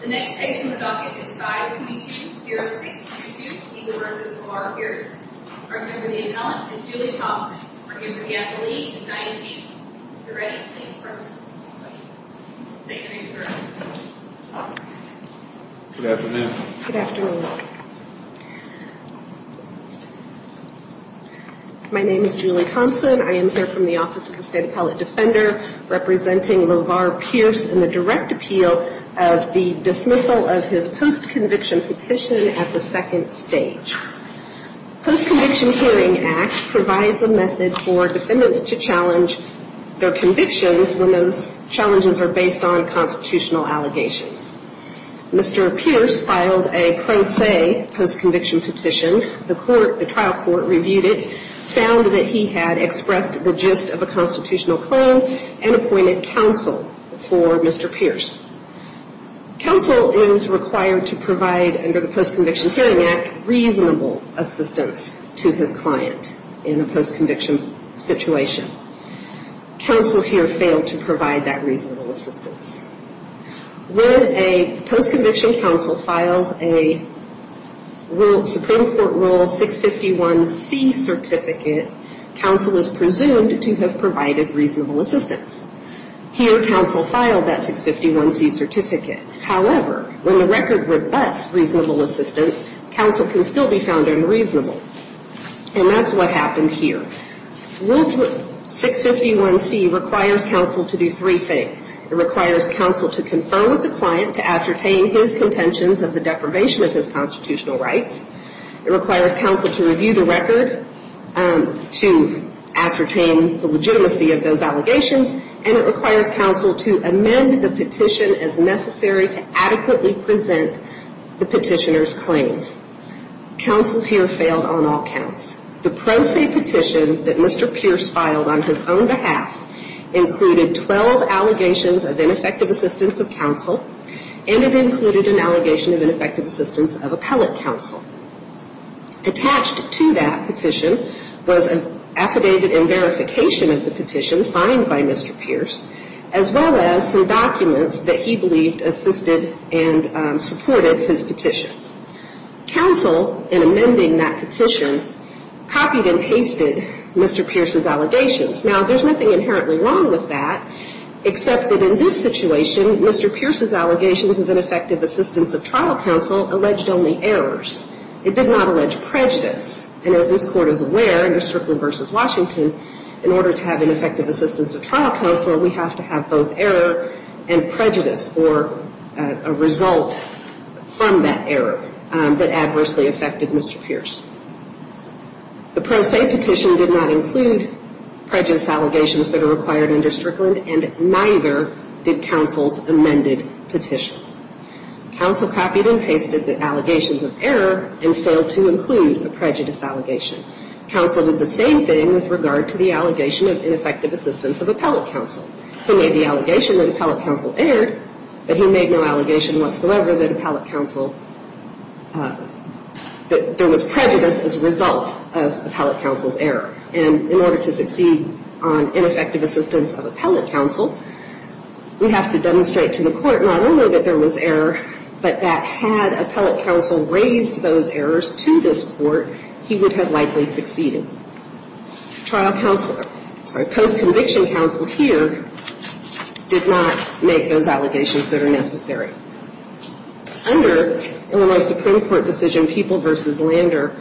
The next case in the docket is 522-0622, Eagle v. LeVar Pierce. Our candidate for the appellant is Julie Thompson. Our candidate for the athlete is Diane Peeble. If you're ready, please proceed. Good afternoon. Good afternoon. My name is Julie Thompson. I am here from the Office of the State Appellate Defender representing LeVar Pierce in the direct appeal of the dismissal of his postconviction petition at the second stage. Postconviction Hearing Act provides a method for defendants to challenge their convictions when those challenges are based on constitutional allegations. Mr. Pierce filed a pro se postconviction petition. The trial court reviewed it, found that he had expressed the gist of a constitutional claim, and appointed counsel for Mr. Pierce. Counsel is required to provide, under the Postconviction Hearing Act, reasonable assistance to his client in a postconviction situation. Counsel here failed to provide that reasonable assistance. When a postconviction counsel files a Supreme Court Rule 651C certificate, counsel is presumed to have provided reasonable assistance. Here, counsel filed that 651C certificate. However, when the record rebuts reasonable assistance, counsel can still be found unreasonable. And that's what happened here. Rule 651C requires counsel to do three things. It requires counsel to confer with the client to ascertain his contentions of the deprivation of his constitutional rights. It requires counsel to review the record to ascertain the legitimacy of those allegations. And it requires counsel to amend the petition as necessary to adequately present the petitioner's claims. Counsel here failed on all counts. The pro se petition that Mr. Pierce filed on his own behalf included 12 allegations of ineffective assistance of counsel, and it included an allegation of ineffective assistance of appellate counsel. Attached to that petition was an affidavit in verification of the petition signed by Mr. Pierce, as well as some documents that he believed assisted and supported his petition. Counsel, in amending that petition, copied and pasted Mr. Pierce's allegations. Now, there's nothing inherently wrong with that, except that in this situation, Mr. Pierce's allegations of ineffective assistance of trial counsel alleged only errors. It did not allege prejudice. And as this Court is aware, under Strickland v. Washington, in order to have ineffective assistance of trial counsel, we have to have both error and prejudice, or a result from that error that adversely affected Mr. Pierce. The pro se petition did not include prejudice allegations that are required under Strickland, and neither did counsel's amended petition. Counsel copied and pasted the allegations of error and failed to include a prejudice allegation. Counsel did the same thing with regard to the allegation of ineffective assistance of appellate counsel. He made the allegation that appellate counsel erred, but he made no allegation whatsoever that appellate counsel, that there was prejudice as a result of appellate counsel's error. And in order to succeed on ineffective assistance of appellate counsel, we have to demonstrate to the Court not only that there was error, but that had appellate counsel raised those errors to this Court, he would have likely succeeded. Post-conviction counsel here did not make those allegations that are necessary. Under Illinois Supreme Court decision People v. Lander,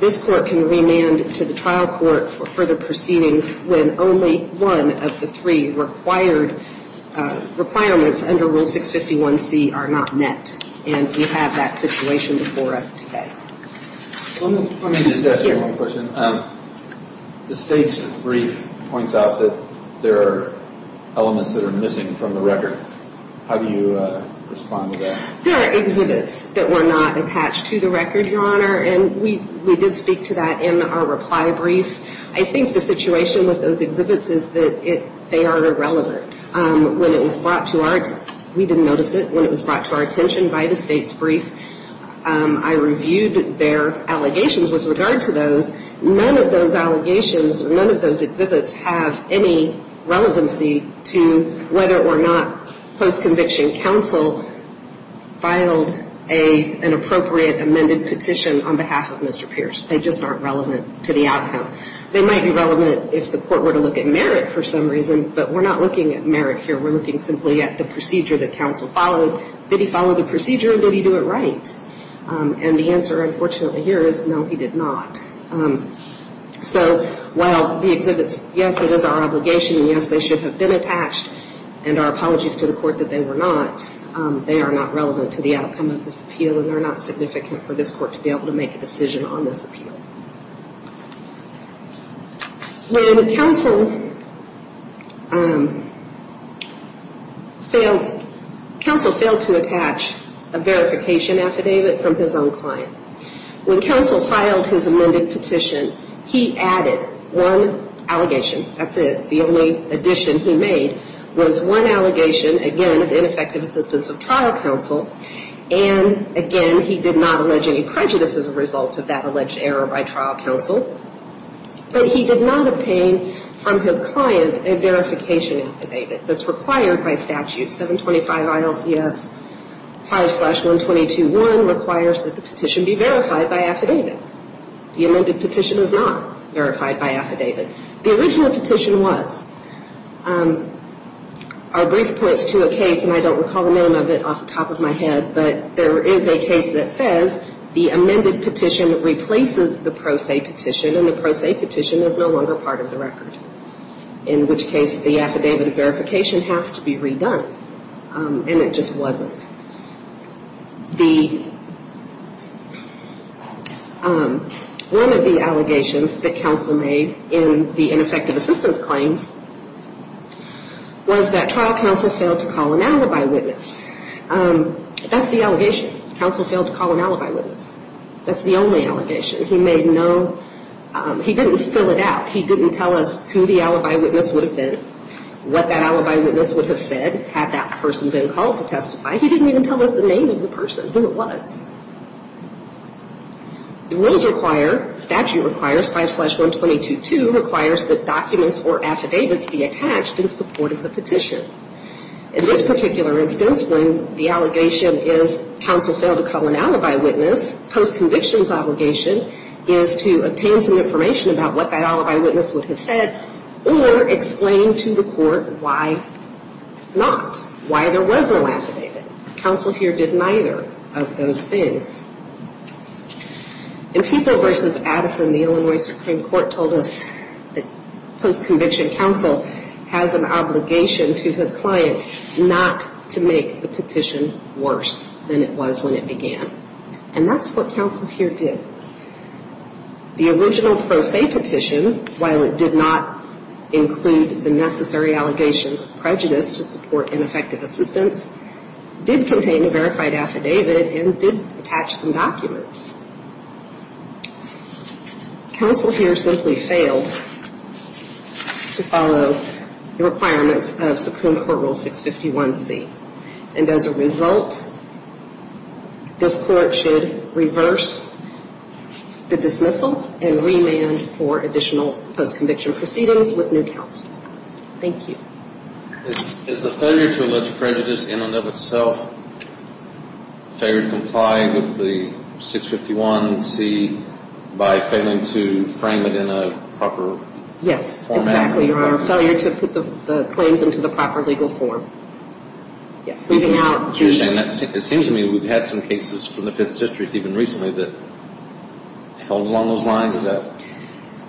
this Court can remand to the trial court for further proceedings when only one of the three requirements under Rule 651C are not met. And we have that situation before us today. Let me just ask you one question. The state's brief points out that there are elements that are missing from the record. How do you respond to that? There are exhibits that were not attached to the record, Your Honor, and we did speak to that in our reply brief. I think the situation with those exhibits is that they are irrelevant. When it was brought to our, we didn't notice it, but when it was brought to our attention by the state's brief, I reviewed their allegations with regard to those. None of those allegations, none of those exhibits have any relevancy to whether or not post-conviction counsel filed an appropriate amended petition on behalf of Mr. Pierce. They just aren't relevant to the outcome. They might be relevant if the Court were to look at merit for some reason, but we're not looking at merit here. We're looking simply at the procedure that counsel followed. Did he follow the procedure? Did he do it right? And the answer, unfortunately, here is no, he did not. So while the exhibits, yes, it is our obligation, and yes, they should have been attached and our apologies to the Court that they were not, they are not relevant to the outcome of this appeal and they're not significant for this Court to be able to make a decision on this appeal. When counsel failed to attach a verification affidavit from his own client, when counsel filed his amended petition, he added one allegation, that's it. The only addition he made was one allegation, again, of ineffective assistance of trial counsel, and again, he did not allege any prejudice as a result of that alleged error by trial counsel, but he did not obtain from his client a verification affidavit that's required by statute. 725 ILCS 5-122-1 requires that the petition be verified by affidavit. The amended petition is not verified by affidavit. The original petition was. Our brief points to a case, and I don't recall the name of it off the top of my head, but there is a case that says the amended petition replaces the pro se petition, and the pro se petition is no longer part of the record, in which case the affidavit of verification has to be redone, and it just wasn't. One of the allegations that counsel made in the ineffective assistance claims was that trial counsel failed to call an alibi witness. That's the allegation. Counsel failed to call an alibi witness. That's the only allegation. He made no, he didn't fill it out. He didn't tell us who the alibi witness would have been, what that alibi witness would have said had that person been called to testify. He didn't even tell us the name of the person, who it was. The rules require, statute requires, 5-122-2 requires that documents or affidavits be attached in support of the petition. In this particular instance, when the allegation is counsel failed to call an alibi witness, post-conviction's obligation is to obtain some information about what that alibi witness would have said or explain to the court why not, why there was no affidavit. Counsel here did neither of those things. In Pico v. Addison, the Illinois Supreme Court told us that post-conviction counsel has an obligation to his client not to make the petition worse than it was when it began. And that's what counsel here did. The original pro se petition, while it did not include the necessary allegations of prejudice to support ineffective assistance, did contain a verified affidavit and did attach some documents. Counsel here simply failed to follow the requirements of Supreme Court Rule 651C. And as a result, this court should reverse the dismissal and remand for additional post-conviction proceedings with new counsel. Thank you. Is the failure to allege prejudice in and of itself failure to comply with the 651C by failing to frame it in a proper format? Exactly, or our failure to put the claims into the proper legal form. Yes, moving out. It seems to me we've had some cases from the Fifth District even recently that held along those lines.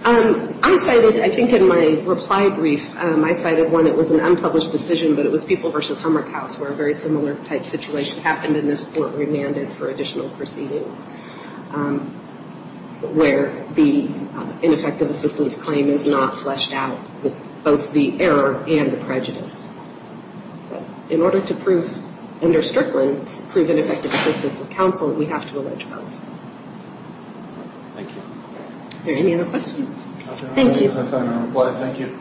I cited, I think in my reply brief, I cited one. It was an unpublished decision, but it was Pico v. Hummerkaus, where a very similar type situation happened, and this court remanded for additional proceedings where the ineffective assistance claim is not fleshed out with both the error and the prejudice. In order to prove under Strickland, prove ineffective assistance of counsel, we have to allege both. Thank you. Are there any other questions? Thank you. Thank you.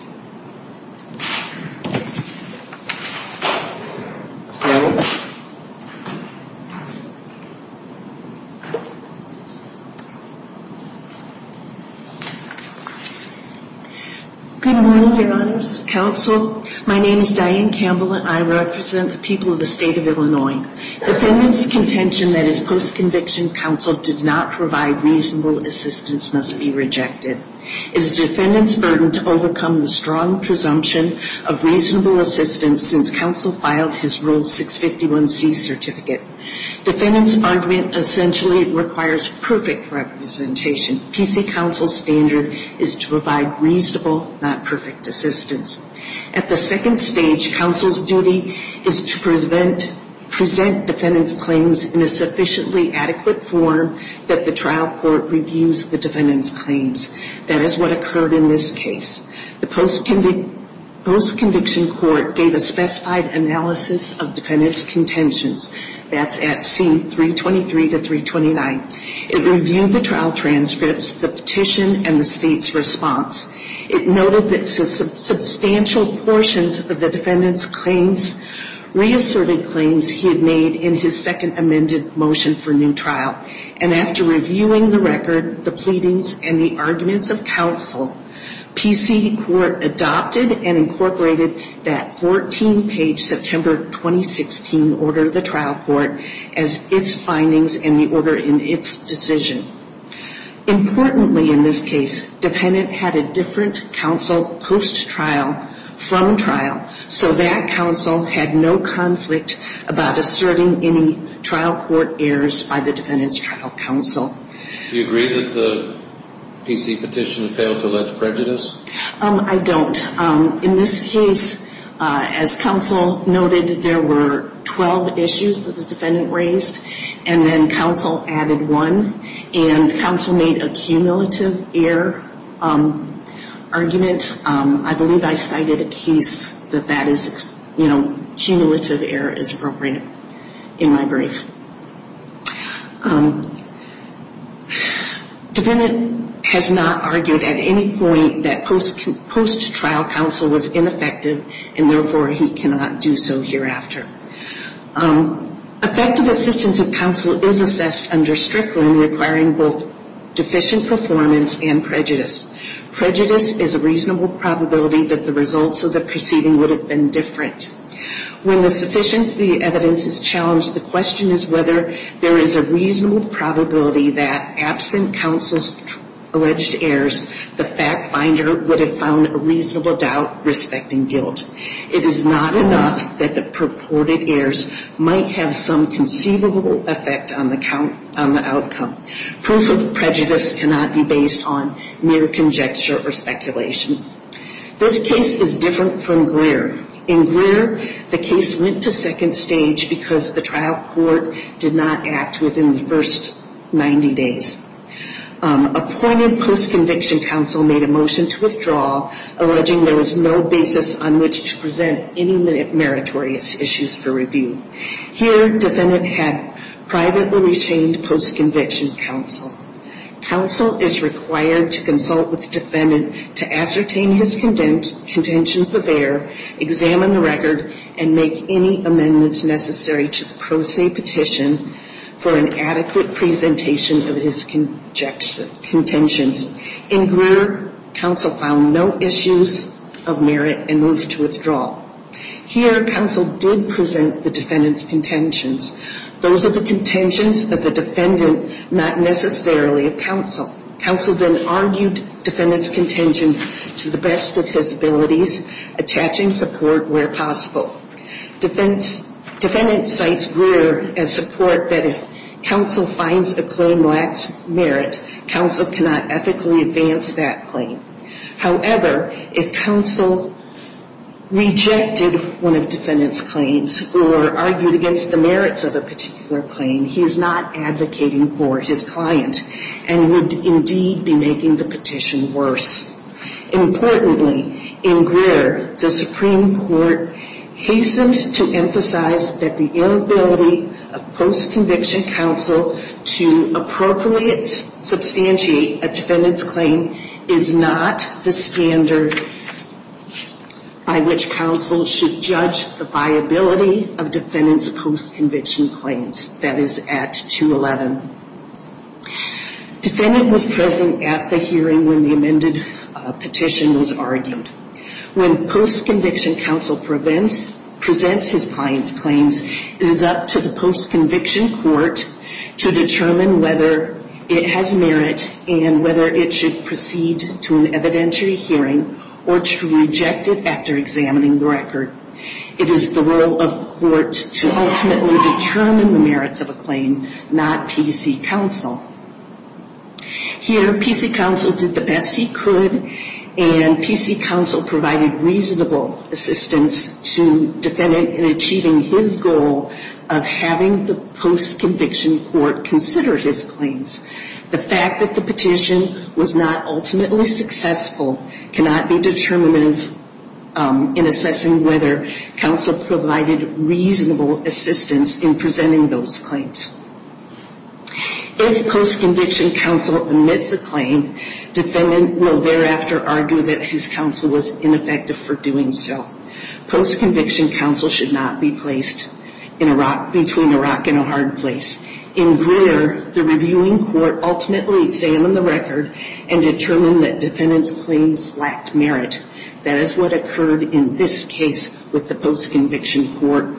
Good morning, Your Honors. Counsel, my name is Diane Campbell, and I represent the people of the State of Illinois. Defendant's contention that his post-conviction counsel did not provide reasonable assistance must be rejected. It is defendant's burden to overcome the strong presumption of reasonable assistance since counsel filed his Rule 651C certificate. Defendant's argument essentially requires perfect representation. PC counsel's standard is to provide reasonable, not perfect assistance. At the second stage, counsel's duty is to present defendant's claims in a sufficiently adequate form that the trial court reviews the defendant's claims. That is what occurred in this case. The post-conviction court gave a specified analysis of defendant's contentions. That's at C-323 to 329. It reviewed the trial transcripts, the petition, and the State's response. It noted that substantial portions of the defendant's claims reasserted claims he had made in his second amended motion for new trial. And after reviewing the record, the pleadings, and the arguments of counsel, PC court adopted and incorporated that 14-page September 2016 order of the trial court as its findings and the order in its decision. Importantly in this case, defendant had a different counsel post-trial from trial, so that counsel had no conflict about asserting any trial court errors by the defendant's trial counsel. Do you agree that the PC petition failed to allege prejudice? I don't. In this case, as counsel noted, there were 12 issues that the defendant raised, and then counsel added one. And counsel made a cumulative error argument. I believe I cited a case that that is, you know, cumulative error is appropriate in my brief. Defendant has not argued at any point that post-trial counsel was ineffective, and therefore he cannot do so hereafter. Effective assistance of counsel is assessed under Strickland requiring both deficient performance and prejudice. Prejudice is a reasonable probability that the results of the proceeding would have been different. When the sufficiency of the evidence is challenged, the question is whether there is a reasonable probability that absent counsel's alleged errors, the fact finder would have found a reasonable doubt respecting guilt. It is not enough that the purported errors might have some conceivable effect on the outcome. Proof of prejudice cannot be based on mere conjecture or speculation. This case is different from Greer. In Greer, the case went to second stage because the trial court did not act within the first 90 days. Appointed post-conviction counsel made a motion to withdraw, alleging there was no basis on which to present any meritorious issues for review. Here, defendant had privately retained post-conviction counsel. Counsel is required to consult with defendant to ascertain his contentions of error, examine the record, and make any amendments necessary to pro se petition for an adequate presentation of his contentions. In Greer, counsel found no issues of merit and moved to withdraw. Here, counsel did present the defendant's contentions. Those are the contentions of the defendant, not necessarily of counsel. Counsel then argued defendant's contentions to the best of his abilities, attaching support where possible. Defendant cites Greer as support that if counsel finds a claim lacks merit, counsel cannot ethically advance that claim. However, if counsel rejected one of defendant's claims or argued against the merits of a particular claim, he is not advocating for his client and would indeed be making the petition worse. Importantly, in Greer, the Supreme Court hastened to emphasize that the inability of post-conviction counsel to appropriately substantiate a defendant's claim is not the standard by which counsel should judge the viability of defendant's post-conviction claims. That is at 211. Defendant was present at the hearing when the amended petition was argued. When post-conviction counsel presents his client's claims, it is up to the post-conviction court to determine whether it has merit and whether it should proceed to an evidentiary hearing or to reject it after examining the record. It is the role of the court to ultimately determine the merits of a claim, not PC counsel. Here, PC counsel did the best he could, and PC counsel provided reasonable assistance to defendant in achieving his goal of having the post-conviction court consider his claims. The fact that the petition was not ultimately successful cannot be determinative in assessing whether counsel provided reasonable assistance in presenting those claims. If post-conviction counsel admits a claim, defendant will thereafter argue that his counsel was ineffective for doing so. Post-conviction counsel should not be placed between a rock and a hard place. In Greer, the reviewing court ultimately examined the record and determined that defendant's claims lacked merit. That is what occurred in this case with the post-conviction court.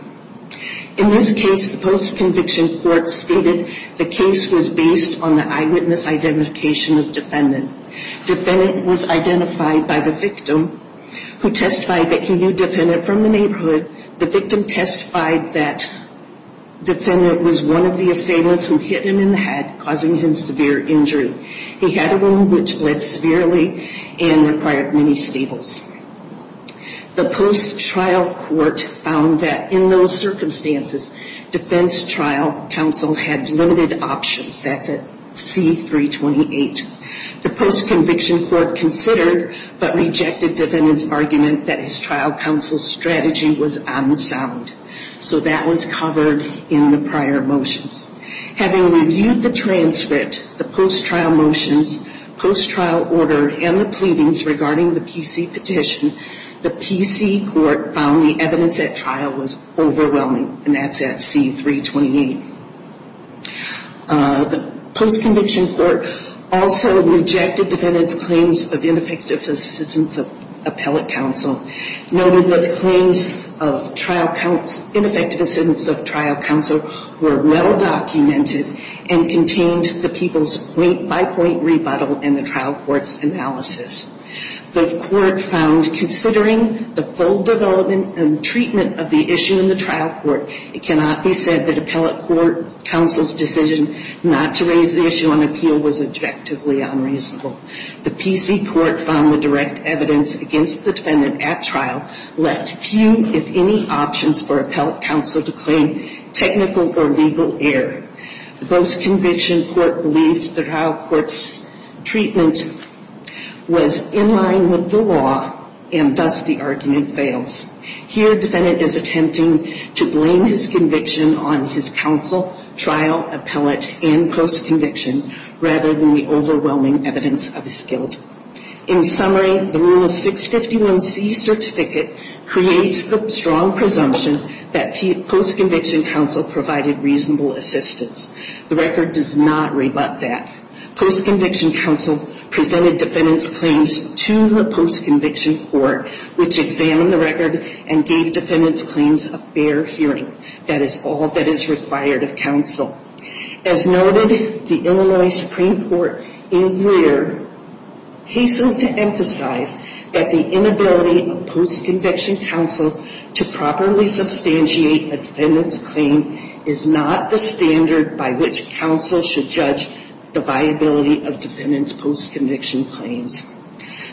In this case, the post-conviction court stated the case was based on the eyewitness identification of defendant. Defendant was identified by the victim, who testified that he knew defendant from the neighborhood. The victim testified that defendant was one of the assailants who hit him in the head, causing him severe injury. He had a wound which bled severely and required many staples. The post-trial court found that in those circumstances, defense trial counsel had limited options. That's at C-328. The post-conviction court considered but rejected defendant's argument that his trial counsel's strategy was unsound. So that was covered in the prior motions. Having reviewed the transcript, the post-trial motions, post-trial order, and the pleadings regarding the PC petition, the PC court found the evidence at trial was overwhelming, and that's at C-328. The post-conviction court also rejected defendant's claims of ineffective assistance of appellate counsel, noted that claims of ineffective assistance of trial counsel were well-documented and contained the people's point-by-point rebuttal in the trial court's analysis. The court found, considering the full development and treatment of the issue in the trial court, it cannot be said that appellate court counsel's decision not to raise the issue on appeal was objectively unreasonable. The PC court found the direct evidence against the defendant at trial left few, if any, options for appellate counsel to claim technical or legal error. The post-conviction court believed the trial court's treatment was in line with the law, and thus the argument fails. Here, defendant is attempting to blame his conviction on his counsel, trial, appellate, and post-conviction, rather than the overwhelming evidence of his guilt. In summary, the Rule 651C certificate creates the strong presumption that post-conviction counsel provided reasonable assistance. The record does not rebut that. Post-conviction counsel presented defendant's claims to the post-conviction court, which examined the record and gave defendant's claims a fair hearing. That is all that is required of counsel. As noted, the Illinois Supreme Court in Rear hastened to emphasize that the inability of post-conviction counsel to properly substantiate a defendant's claim is not the standard by which counsel should judge the viability of defendant's post-conviction claims.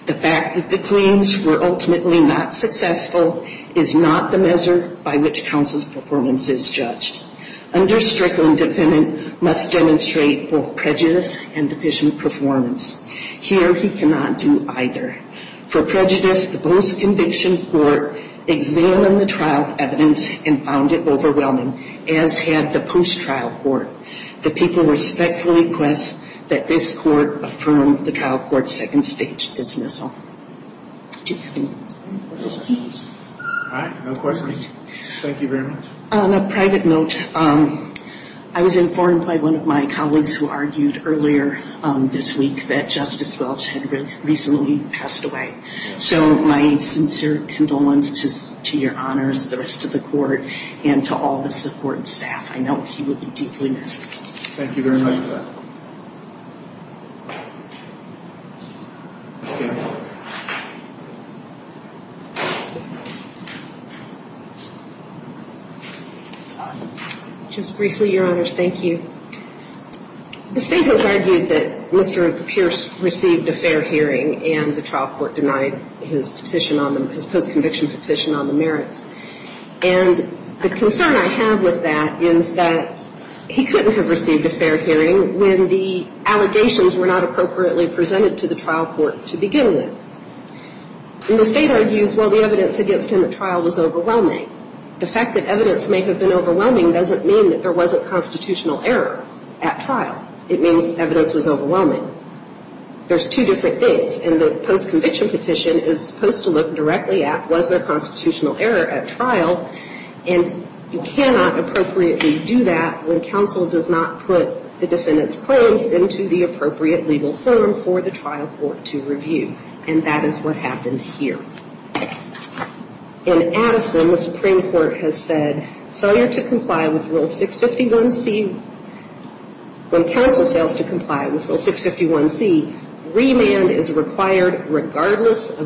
The fact that the claims were ultimately not successful is not the measure by which counsel's performance is judged. Under Strickland, defendant must demonstrate both prejudice and deficient performance. Here, he cannot do either. For prejudice, the post-conviction court examined the trial evidence and found it overwhelming, as had the post-trial court. The people respectfully request that this court affirm the trial court's second stage dismissal. Do you have any further questions? All right. No questions. Thank you very much. On a private note, I was informed by one of my colleagues who argued earlier this week that Justice Welch had recently passed away. So my sincere condolences to your honors, the rest of the court, and to all the support staff. I know he will be deeply missed. Thank you very much for that. Ms. Campbell. Just briefly, your honors, thank you. The State has argued that Mr. Pierce received a fair hearing and the trial court denied his petition on the – his post-conviction petition on the merits. And the concern I have with that is that he couldn't have received a fair hearing when the allegations were not appropriately presented to the trial court to begin with. And the State argues, well, the evidence against him at trial was overwhelming. The fact that evidence may have been overwhelming doesn't mean that there wasn't constitutional error at trial. It means evidence was overwhelming. There's two different things. And the post-conviction petition is supposed to look directly at was there constitutional error at trial. And you cannot appropriately do that when counsel does not put the defendant's claims into the appropriate legal form for the trial court to review. And that is what happened here. In Addison, the Supreme Court has said failure to comply with Rule 651C – regardless of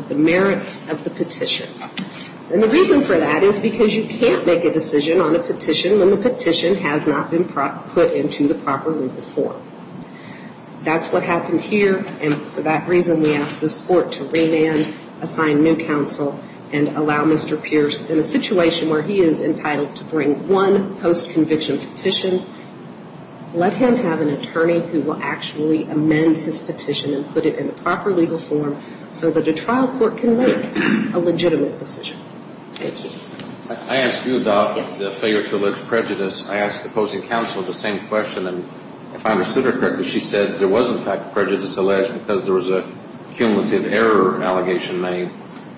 the merits of the petition. And the reason for that is because you can't make a decision on a petition when the petition has not been put into the proper legal form. That's what happened here. And for that reason, we ask this court to remand, assign new counsel, and allow Mr. Pierce in a situation where he is entitled to bring one post-conviction petition, let him have an attorney who will actually amend his petition and put it in the proper legal form so that a trial court can make a legitimate decision. Thank you. I asked you about the failure to allege prejudice. I asked opposing counsel the same question. And if I understood her correctly, she said there was, in fact, prejudice alleged because there was a cumulative error allegation made.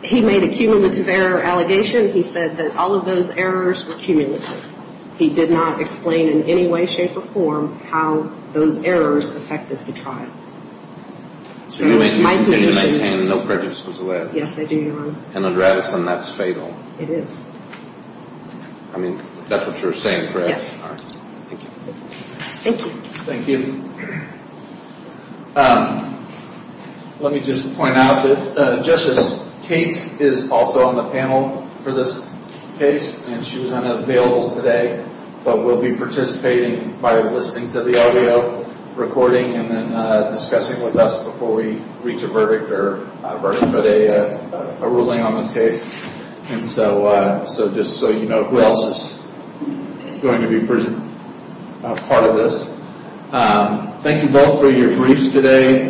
He made a cumulative error allegation. He said that all of those errors were cumulative. He did not explain in any way, shape, or form how those errors affected the trial. So you continue to maintain no prejudice was alleged? Yes, I do, Your Honor. And under Addison, that's fatal? It is. I mean, that's what you're saying, correct? Yes. All right. Thank you. Thank you. Thank you. Let me just point out that Justice Cates is also on the panel for this case, and she was unavailable today. But we'll be participating by listening to the audio recording and then discussing with us before we reach a verdict or a verdict, but a ruling on this case. And so just so you know, who else is going to be a part of this. Thank you both for your briefs today.